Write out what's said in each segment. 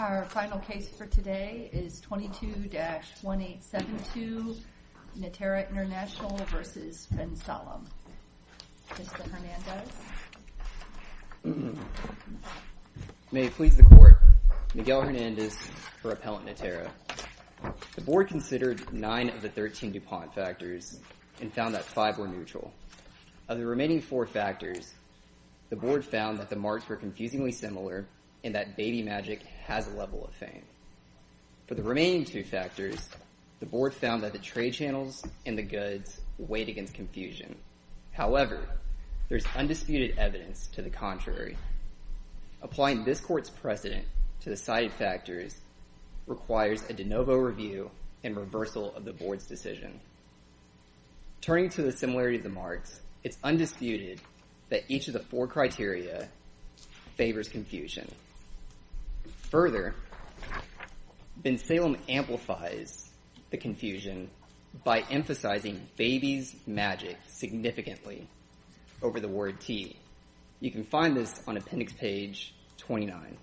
Our final case for today is 22-1872, Naterra International v. Bensalem. Mr. Hernandez? May it please the Court, Miguel Hernandez for Appellant Naterra. The Board considered nine of the 13 DuPont factors and found that five were neutral. Of the remaining four factors, the Board found that the marks were confusingly similar and that Baby Magic has a level of fame. For the remaining two factors, the Board found that the trade channels and the goods weighed against confusion. However, there is undisputed evidence to the contrary. Applying this Court's precedent to the cited factors requires a de novo review and reversal of the Board's decision. Turning to the similarity of the marks, it's undisputed that each of the four criteria favors confusion. Further, Bensalem amplifies the confusion by emphasizing Baby's Magic significantly over the word T. You can find this on Appendix Page 29.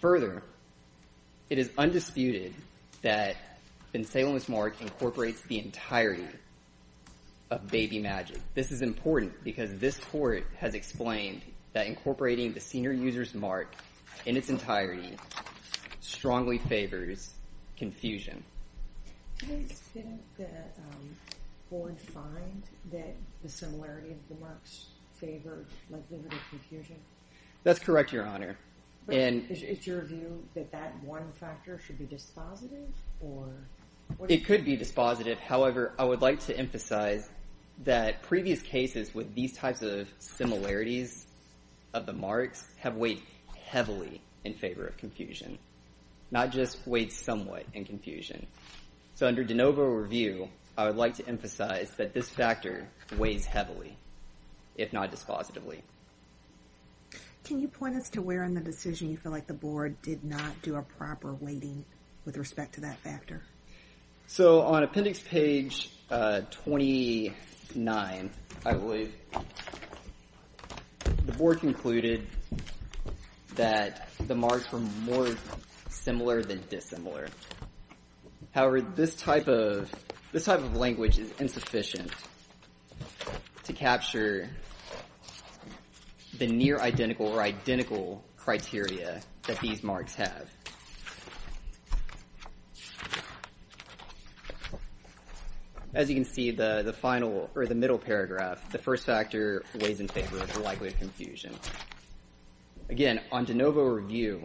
Further, it is undisputed that Bensalem's mark incorporates the entirety of Baby Magic. This is important because this Court has explained that incorporating the senior user's mark in its entirety strongly favors confusion. Did the Board find that the similarity of the marks favored limited confusion? That's correct, Your Honor. Is your view that that one factor should be dispositive? It could be dispositive. However, I would like to emphasize that previous cases with these types of similarities of the marks have weighed heavily in favor of confusion, not just weighed somewhat in confusion. So, under de novo review, I would like to emphasize that this factor weighs heavily, if not dispositively. Can you point us to where in the decision you feel like the Board did not do a proper weighting with respect to that factor? On Appendix Page 29, I believe, the Board concluded that the marks were more similar than dissimilar. However, this type of language is insufficient to capture the near identical or identical criteria that these marks have. As you can see, the middle paragraph, the first factor weighs in favor of the likelihood of confusion. Do you want to move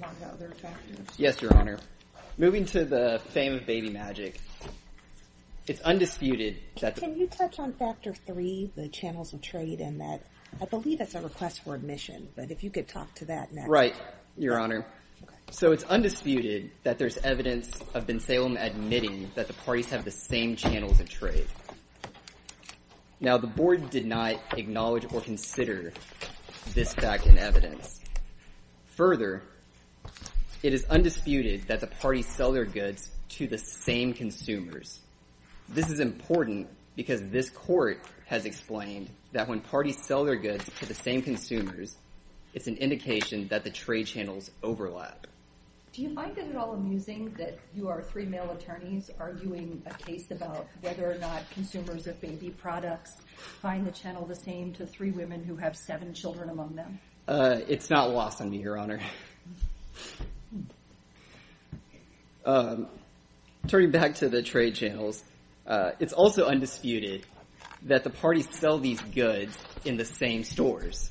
on to other factors? Yes, Your Honor. Moving to the fame of baby magic, it's undisputed that... Can you touch on Factor 3, the channels of trade? I believe that's a request for admission, but if you could talk to that next. Right, Your Honor. So, it's undisputed that there's evidence of Bensalem admitting that the parties have the same channels of trade. Now, the Board did not acknowledge or consider this fact in evidence. Further, it is undisputed that the parties sell their goods to the same consumers. This is important because this Court has explained that when parties sell their goods to the same consumers, it's an indication that the trade channels overlap. Do you find it at all amusing that you are three male attorneys arguing a case about whether or not consumers of baby products find the channel the same to three women who have seven children among them? It's not lost on me, Your Honor. Turning back to the trade channels, it's also undisputed that the parties sell these goods in the same stores.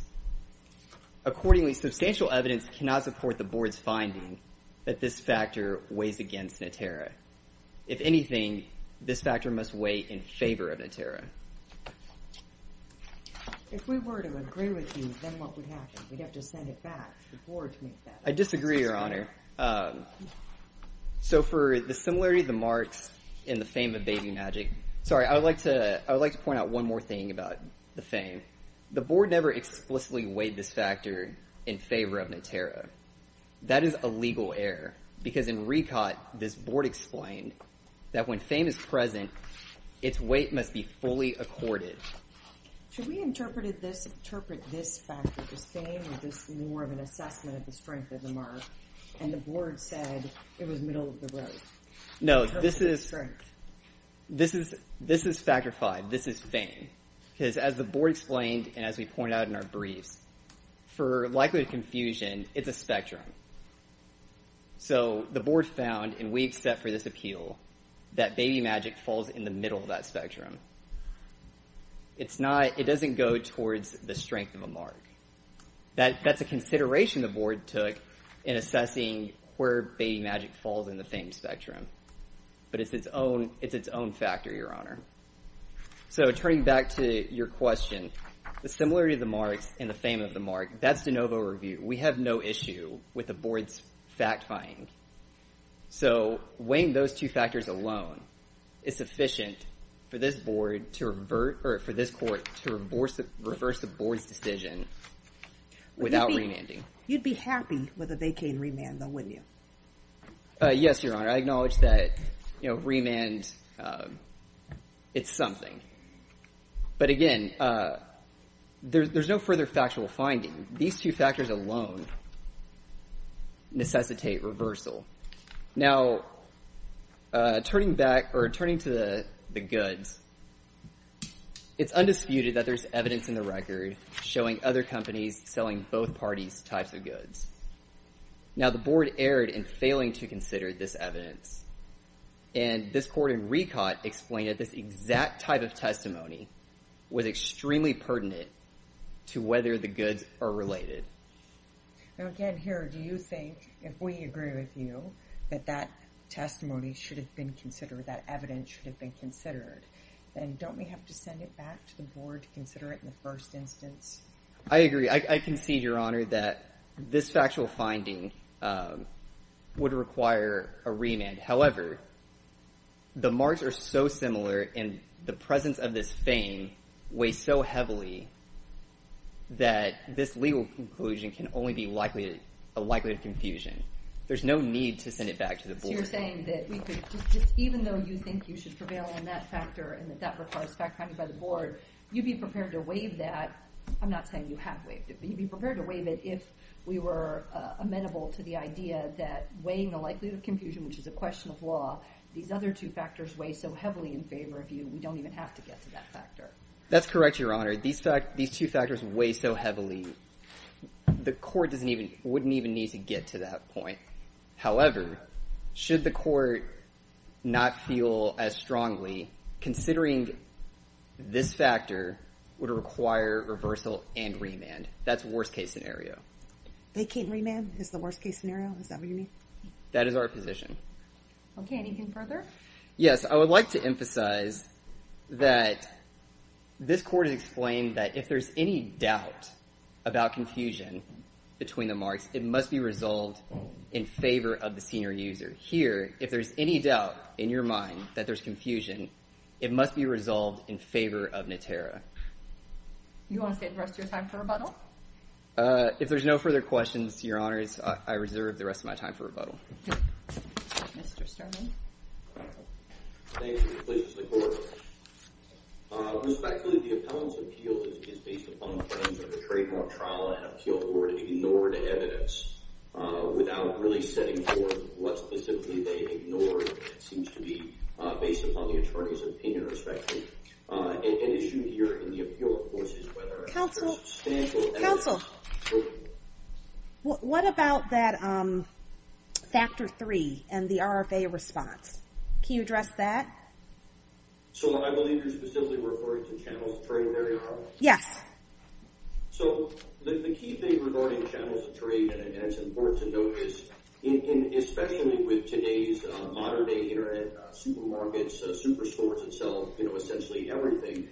Accordingly, substantial evidence cannot support the Board's finding that this factor weighs against Natera. If anything, this factor must weigh in favor of Natera. If we were to agree with you, then what would happen? We'd have to send it back to the Board to make that assessment. I disagree, Your Honor. So, for the similarity of the marks in the fame of baby magic, sorry, I would like to point out one more thing about the fame. The Board never explicitly weighed this factor in favor of Natera. That is a legal error because in RECOT, this Board explained that when fame is present, its weight must be fully accorded. Should we interpret this factor as fame or just more of an assessment of the strength of the mark? And the Board said it was middle of the road. No, this is factor five. This is fame. As the Board explained and as we pointed out in our briefs, for likelihood of confusion, it's a spectrum. So, the Board found, and we accept for this appeal, that baby magic falls in the middle of that spectrum. It doesn't go towards the strength of a mark. That's a consideration the Board took in assessing where baby magic falls in the fame spectrum, but it's its own factor, Your Honor. So, turning back to your question, the similarity of the marks and the fame of the mark, that's de novo review. We have no issue with the Board's fact-fying. So, weighing those two factors alone is sufficient for this Court to reverse the Board's decision without remanding. You'd be happy with a vacay in remand though, wouldn't you? Yes, Your Honor. I acknowledge that, you know, remand, it's something. But again, there's no further factual finding. These two factors alone necessitate reversal. Now, turning back or turning to the goods, it's undisputed that there's evidence in the record showing other companies selling both parties' types of goods. Now, the Board erred in failing to consider this evidence, and this Court in Recaught explained that this exact type of testimony was extremely pertinent to whether the goods are related. Now, again, here, do you think, if we agree with you, that that testimony should have been considered, that evidence should have been considered, then don't we have to send it back to the Board to consider it in the first instance? I agree. I concede, Your Honor, that this factual finding would require a remand. However, the marks are so similar, and the presence of this fame weighs so heavily that this legal conclusion can only be likely to be a likely confusion. There's no need to send it back to the Board. So you're saying that we could just, even though you think you should prevail on that factor, and that that requires fact-finding by the Board, you'd be prepared to waive that. I'm not saying you have waived it, but you'd be prepared to waive it if we were amenable to the idea that weighing the likelihood of confusion, which is a question of law, these other two factors weigh so heavily in favor of you, we don't even have to get to that factor. That's correct, Your Honor. These two factors weigh so heavily, the Court wouldn't even need to get to that point. However, should the Court not feel as strongly, considering this factor would require reversal and remand, that's worst-case scenario. They can't remand is the worst-case scenario? Is that what you mean? That is our position. Okay. Anything further? Yes. I would like to emphasize that this Court has explained that if there's any doubt about confusion between the marks, it must be resolved in favor of the senior user. Here, if there's any doubt in your mind that there's confusion, it must be resolved in favor of Natera. You want to stay the rest of your time for rebuttal? If there's no further questions, Your Honor, I reserve the rest of my time for rebuttal. Mr. Sterling. Thank you. The appellant's appeal is based upon the claims of the trademark trial and really setting forth what specifically they ignored. It seems to be based upon the attorney's opinion, respectively. An issue here in the appeal, of course, is whether there's substantial evidence. Counsel, what about that factor three and the RFA response? Can you address that? So I believe you're specifically referring to channels of trade, Mary Arnold? Yes. So the key thing regarding channels of trade, and it's important to note, is especially with today's modern-day internet supermarkets, superstores that sell essentially everything,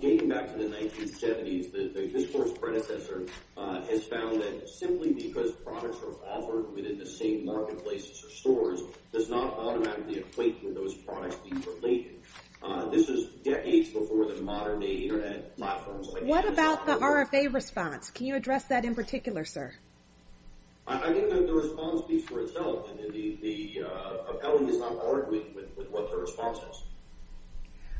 getting back to the 1970s, this Court's predecessor has found that simply because products are offered within the same marketplaces or stores does not automatically equate with those products being related. This is decades before the modern-day internet platforms. What about the RFA response? Can you address that in particular, sir? I think that the response speaks for itself. The appellant is not barred with what the response is.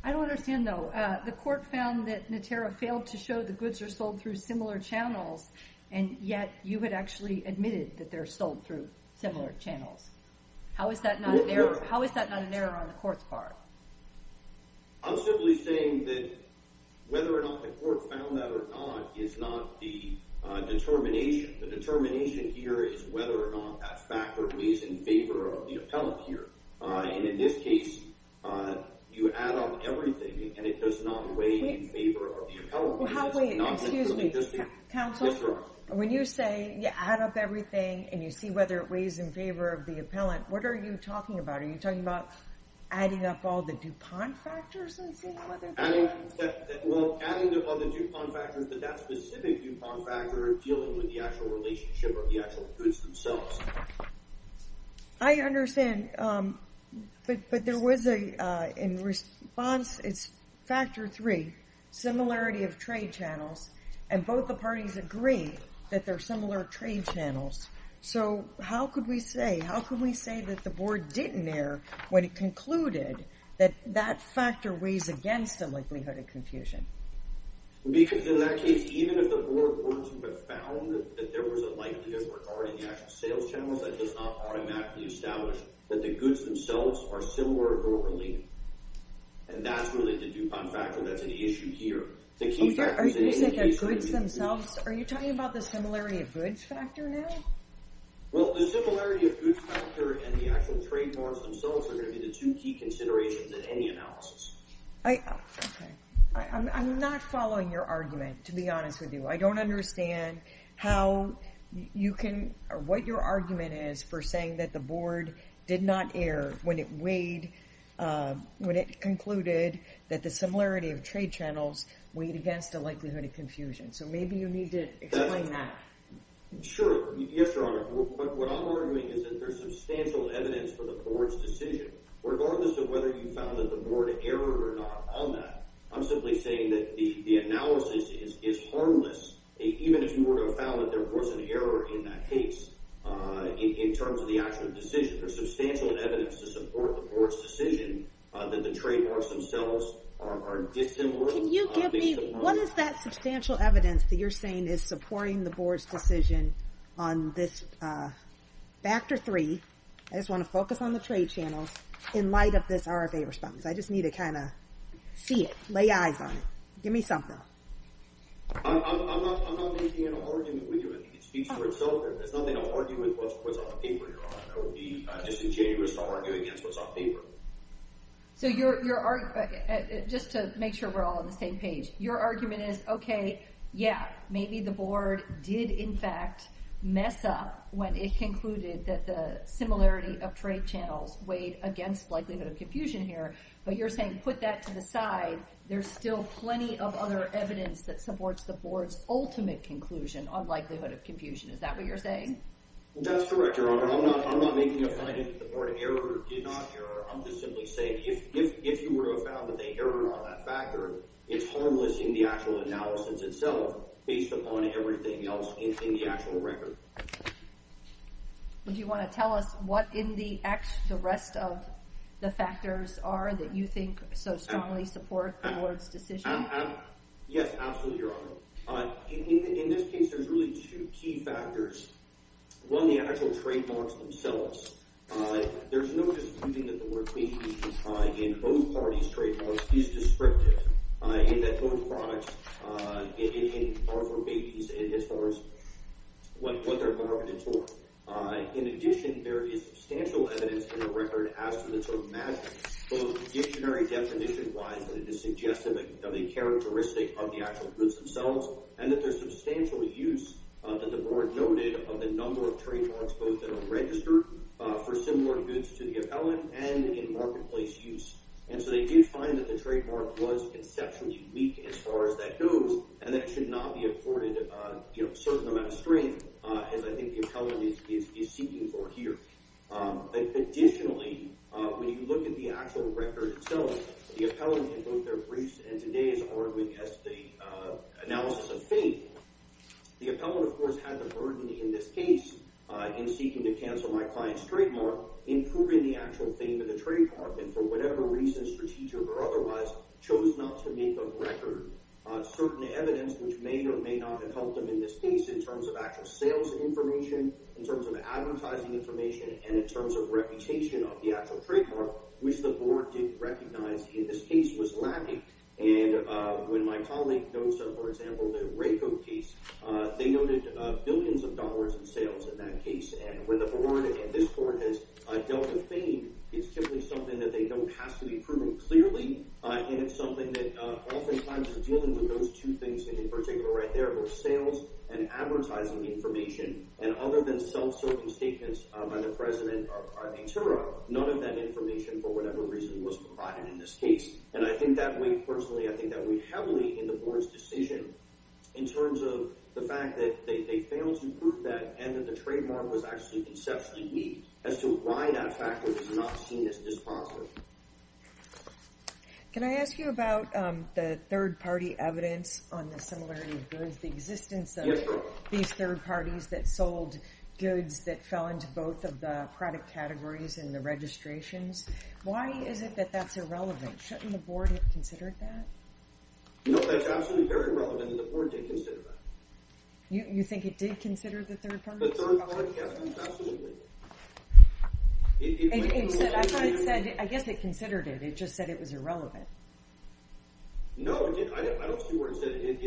I don't understand, though. The Court found that Natera failed to show the goods are sold through similar channels, and yet you had actually admitted that they're sold through similar channels. How is that not an error on the Court's part? I'm simply saying that whether or not the Court found that or not is not the determination. The determination here is whether or not that factor weighs in favor of the appellant here. And in this case, you add up everything, and it does not weigh in favor of the appellant. Well, how do we—excuse me. Counsel? Yes, Your Honor. When you say you add up everything and you see whether it weighs in favor of the appellant, what are you talking about? Are you talking about adding up all the DuPont factors and seeing whether— Well, adding up all the DuPont factors, but that specific DuPont factor in dealing with the actual relationship of the actual goods themselves. I understand, but there was a—in response, it's factor three, similarity of trade channels, and both the parties agree that they're similar trade channels. So, how could we say—how could we say that the Board didn't err when it concluded that that factor weighs against the likelihood of confusion? In that case, even if the Board were to have found that there was a likelihood regarding the actual sales channels, that does not automatically establish that the goods themselves are similar or related. And that's really the DuPont factor that's an issue here. The key factor— Are you saying that goods themselves—are you talking about the similarity of goods factor now? Well, the similarity of goods factor and the actual trade norms themselves are going to be the two key considerations in any analysis. I—okay. I'm not following your argument, to be honest with you. I don't understand how you can—or what your argument is for saying that the Board did not err when it weighed—when it concluded that the similarity of trade channels weighed against the likelihood of confusion. So, maybe you need to explain that. Sure. Yes, Your Honor. What I'm arguing is that there's substantial evidence for the Board's decision. Regardless of whether you found that the Board erred or not on that, I'm simply saying that the analysis is harmless, even if you were to have found that there was an error in that case, in terms of the actual decision. There's substantial evidence to support the Board's decision that the trade norms themselves are dissimilar— Can you give me—what is that substantial evidence that you're saying is supporting the Board's decision on this factor three? I just want to focus on the trade channels in light of this RFA response. I just need to kind of see it, lay eyes on it. Give me something. I'm not making an argument with you. I think it speaks for itself. There's nothing to argue with what's on paper, Your Honor. It would be just injurious to argue against what's on paper. So, your argument—just to make sure we're all on the same page— your argument is, okay, yeah, maybe the Board did, in fact, mess up when it concluded that the similarity of trade channels weighed against likelihood of confusion here. But you're saying, put that to the side. There's still plenty of other evidence that supports the Board's ultimate conclusion on likelihood of confusion. Is that what you're saying? That's correct, Your Honor. I'm not making a finding that the Board erred or did not error. I'm just simply saying, if you were to have found that they erred on that factor, it's harmless in the actual analysis itself, based upon everything else in the actual record. Would you want to tell us what in the rest of the factors are that you think so strongly support the Board's decision? Yes, absolutely, Your Honor. In this case, there's really two key factors. One, the actual trademarks themselves. There's no disputing that the work we do in both parties' trademarks is descriptive. In that both products are for babies as far as what they're marketed for. In addition, there is substantial evidence in the record as to the sort of magic, both dictionary definition-wise, that it is suggestive of the characteristic of the actual goods themselves and that there's substantial use that the Board noted of the number of trademarks, both that are registered for similar goods to the appellant and in marketplace use. And so they do find that the trademark was conceptually weak as far as that goes and that it should not be afforded a certain amount of strength as I think the appellant is seeking for here. Additionally, when you look at the actual record itself, the appellant in both their briefs and today's are arguing as the analysis of fate. The appellant, of course, had the burden in this case in seeking to cancel my client's trademark in proving the actual fame of the trademark and for whatever reason, strategic or otherwise, chose not to make a record on certain evidence which may or may not have helped him in this case in terms of actual sales information, in terms of advertising information, and in terms of reputation of the actual trademark which the Board didn't recognize in this case was lacking. And when my colleague notes, for example, the RACO case, they noted billions of dollars in sales in that case. And when the Board and this Court has dealt with fame, it's typically something that they know has to be proven clearly. And it's something that oftentimes is dealing with those two things that in particular right there, both sales and advertising information. And other than self-circumstatements by the President of Antwerp, none of that information for whatever reason was provided in this case. And I think that weighed personally, I think that weighed heavily in the Board's decision in terms of the fact that they failed to prove that and that the trademark was actually conceptually weak as to why that factor was not seen as dispositive. Can I ask you about the third-party evidence on the similarity of goods, the existence of these third parties that sold goods that fell into both of the product categories and the registrations? Why is it that that's irrelevant? Shouldn't the Board have considered that? No, that's absolutely very relevant, and the Board did consider that. You think it did consider the third parties? The third party, yes, absolutely. I guess it considered it. It just said it was irrelevant. No, I don't see where it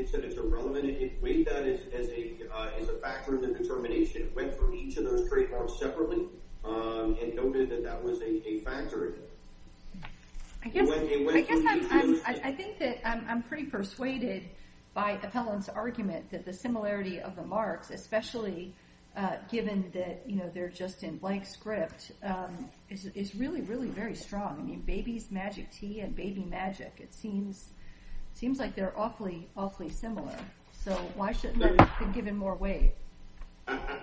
said it's irrelevant. It weighed that as a factor of the determination. It went through each of those trademarks separately and noted that that was a factor. I think that I'm pretty persuaded by the Pellon's argument that the similarity of the marks, especially given that they're just in blank script, is really, really very strong. I mean, baby's magic tea and baby magic, it seems like they're awfully, awfully similar. So why shouldn't they have been given more weight?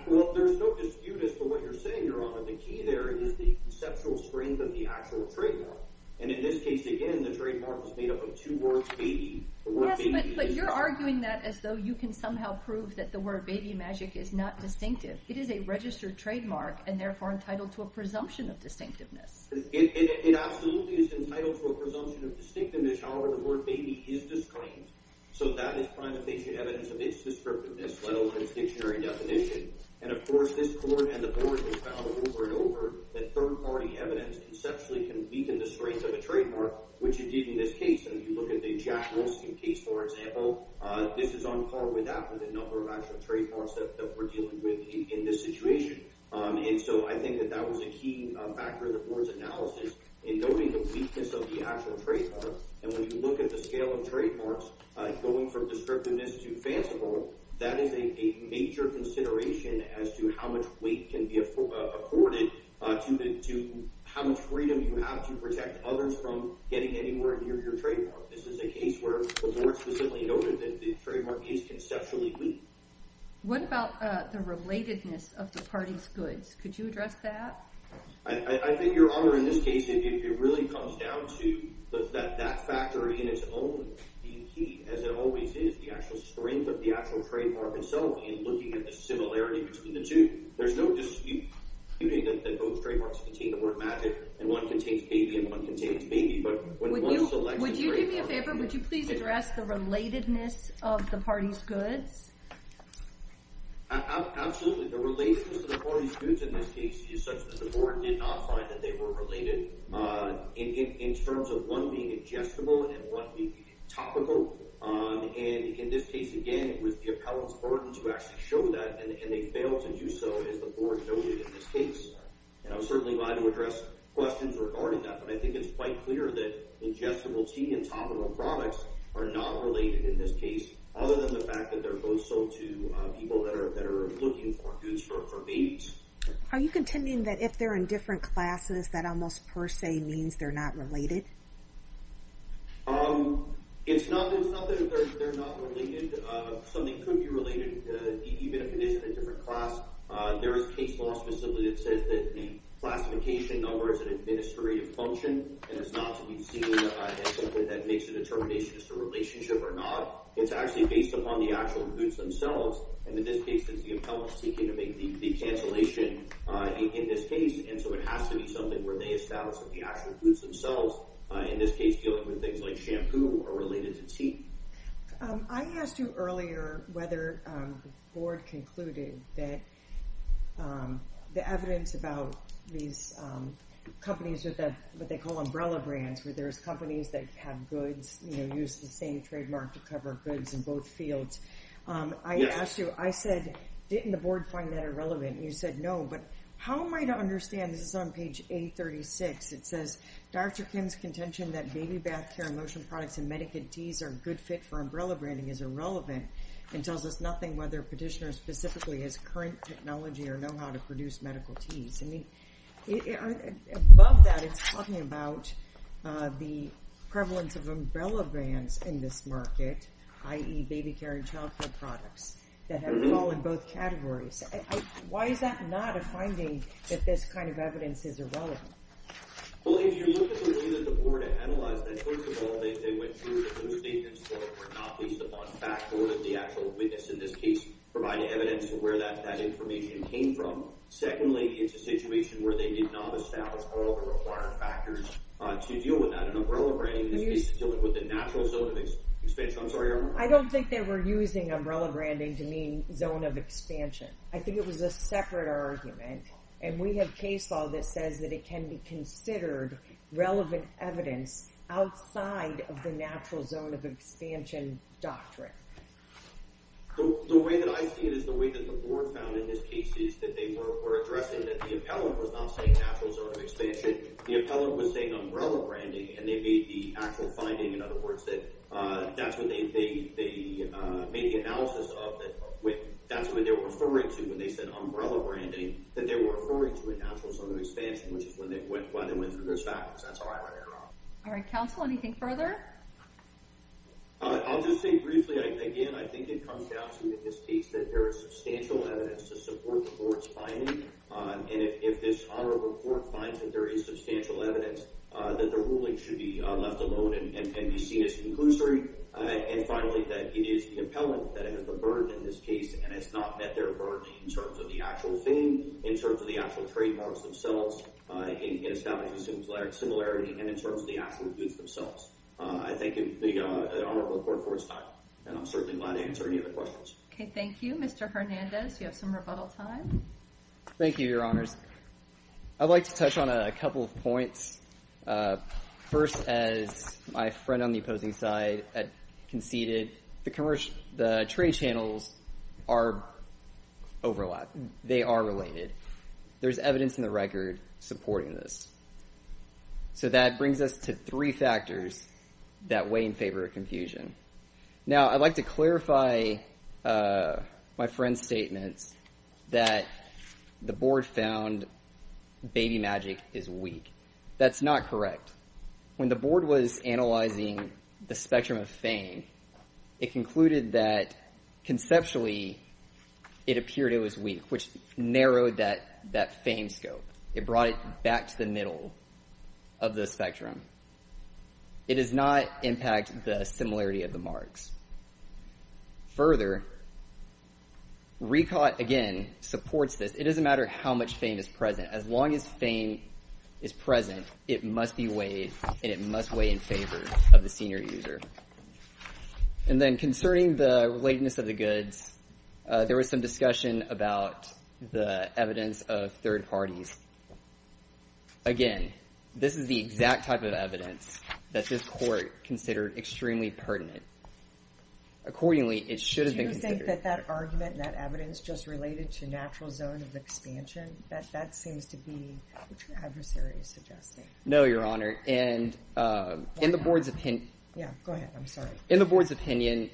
Well, there's no dispute as to what you're saying, Your Honor. The key there is the conceptual strength of the actual trademark. And in this case, again, the trademark was made up of two words, baby. Yes, but you're arguing that as though you can somehow prove that the word baby magic is not distinctive. It is a registered trademark and therefore entitled to a presumption of distinctiveness. It absolutely is entitled to a presumption of distinctiveness. However, the word baby is disclaimed. So that is prime evidence of its descriptiveness, let alone its dictionary definition. And of course, this court and the board have found over and over that third-party evidence conceptually can weaken the strength of a trademark, which indeed in this case, and if you look at the Jack Wilson case, for example, this is on par with that for the number of actual trademarks that we're dealing with in this situation. And so I think that that was a key factor in the board's analysis in noting the weakness of the actual trademark. And when you look at the scale of trademarks going from descriptiveness to fanciful, that is a major consideration as to how much weight can be afforded to how much freedom you have to protect others from getting anywhere near your trademark. This is a case where the board specifically noted that the trademark is conceptually weak. What about the relatedness of the party's goods? Could you address that? I think, Your Honor, in this case, if it really comes down to that factor in its own being key, as it always is, the actual strength of the actual trademark itself in looking at the similarity between the two, there's no dispute that both trademarks contain the word magic and one contains baby and one contains baby. Would you give me a favor? Would you please address the relatedness of the party's goods? Absolutely. The relatedness of the party's goods in this case is such that the board did not find that they were related in terms of one being adjustable and one being topical. And in this case, again, it was the appellant's burden to actually show that, and they failed to do so as the board noted in this case. And I was certainly glad to address questions regarding that, but I think it's quite clear that adjustability and topical products are not related in this case, other than the fact that they're both sold to people that are looking for goods for babies. Are you contending that if they're in different classes, that almost per se means they're not related? It's not that they're not related. Something could be related, even if it is in a different class. There is case law specifically that says that the classification number is an administrative function, and it's not to be seen as something that makes a determination as to relationship or not. It's actually based upon the actual goods themselves. And in this case, since the appellant's seeking to make the cancellation in this case, and so it has to be something where they establish that the actual goods themselves, in this case, dealing with things like shampoo, are related to tea. I asked you earlier whether the board concluded that the evidence about these companies with what they call umbrella brands, where there's companies that have goods, you know, use the same trademark to cover goods in both fields. I asked you, I said, didn't the board find that irrelevant? And you said, no. But how am I to understand, this is on page 836, it says, Dr. Kim's contention that baby bath care and lotion products and Medicaid teas are a good fit for umbrella branding is irrelevant and tells us nothing whether petitioner specifically has current technology or know how to produce medical teas. I mean, above that, it's talking about the prevalence of umbrella brands in this market, i.e. baby care and child care products that have fall in both categories. Why is that not a finding that this kind of evidence is irrelevant? Well, if you look at the way that the board analyzed that, first of all, they went through that those statements were not based upon fact or that the actual witness in this case provided evidence to where that information came from. Secondly, it's a situation where they did not establish all the required factors to deal with that. And umbrella branding is dealing with the natural zone of expansion. I don't think they were using umbrella branding to mean zone of expansion. I think it was a separate argument. And we have case law that says that it can be considered relevant evidence outside of the natural zone of expansion doctrine. The way that I see it is the way that the board found in this case is that they were addressing that the appellant was not saying natural zone of expansion. The appellant was saying umbrella branding and they made the actual finding. In other words, that that's what they made the analysis of. That's what they were referring to when they said umbrella branding that they were referring to a natural zone of expansion when they went through those factors. That's how I read it wrong. All right, counsel, anything further? I'll just say briefly, again, I think it comes down to in this case that there is substantial evidence to support the board's finding. And if this honorable court finds that there is substantial evidence that the ruling should be left alone and be seen as conclusory. And finally, that it is the appellant that has a burden in this case and it's not met their burden in terms of the actual thing, in terms of the actual trademarks themselves. It establishes a similarity and in terms of the actual goods themselves. I thank the honorable court for its time and I'm certainly glad to answer any other questions. Okay, thank you, Mr. Hernandez. You have some rebuttal time. Thank you, your honors. I'd like to touch on a couple of points. First, as my friend on the opposing side conceded, the trade channels are overlapped. They are related. There's evidence in the record supporting this. So that brings us to three factors that weigh in favor of confusion. Now, I'd like to clarify my friend's statements that the board found baby magic is weak. That's not correct. When the board was analyzing the spectrum of fame, it concluded that conceptually it appeared it was weak, which narrowed that fame scope. It brought it back to the middle of the spectrum. It does not impact the similarity of the marks. Further, RECOT, again, supports this. It doesn't matter how much fame is present. As long as fame is present, it must be weighed and it must weigh in favor of the senior user. And then concerning the relatedness of the goods, there was some discussion about the evidence of third parties. Again, this is the exact type of evidence that this court considered extremely pertinent. Accordingly, it should have been considered. Do you think that that argument and that evidence just related to natural zone of expansion, that seems to be what your adversary is suggesting? No, Your Honor. And in the board's opinion... Yeah, go ahead. I'm sorry. In the board's opinion,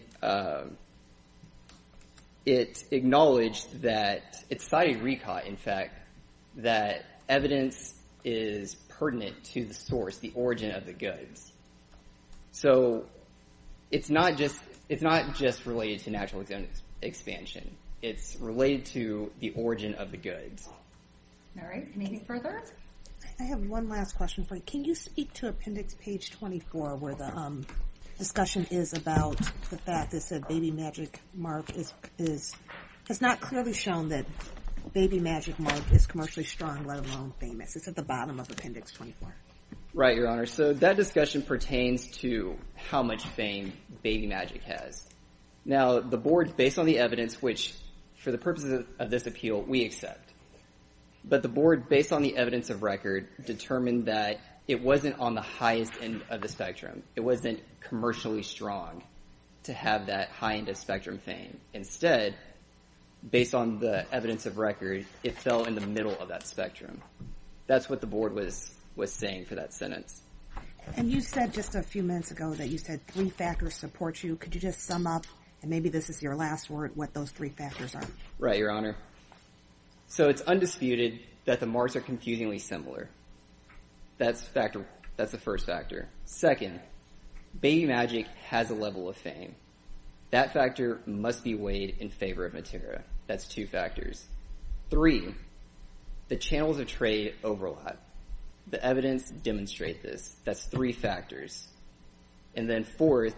it acknowledged that, it cited RECOT, in fact, that evidence is pertinent to the source, the origin of the goods. So it's not just related to natural zone expansion. It's related to the origin of the goods. All right. Any further? I have one last question for you. Can you speak to appendix page 24, where the discussion is about the fact that said Baby Magic Mark has not clearly shown that Baby Magic Mark is commercially strong, let alone famous. It's at the bottom of appendix 24. Right, Your Honor. So that discussion pertains to how much fame Baby Magic has. Now, the board, based on the evidence, which for the purposes of this appeal, we accept. But the board, based on the evidence of RECOT, determined that it wasn't on the highest end of the spectrum. It wasn't commercially strong to have that high end of spectrum fame. Instead, based on the evidence of RECOT, it fell in the middle of that spectrum. That's what the board was saying for that sentence. And you said just a few minutes ago that you said three factors support you. Could you just sum up, and maybe this is your last word, what those three factors are? Right, Your Honor. So it's undisputed that the marks are confusingly similar. That's the first factor. Second, Baby Magic has a level of fame. That factor must be weighed in favor of Matera. That's two factors. Three, the channels of trade overlap. The evidence demonstrate this. That's three factors. And then fourth,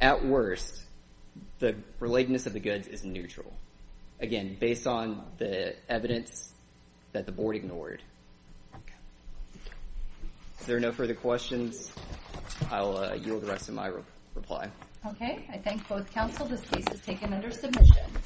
at worst, the relatedness of the goods is neutral. Again, based on the evidence that the board ignored. If there are no further questions, I'll yield the rest of my reply. Okay, I thank both counsel. This case is taken under submission.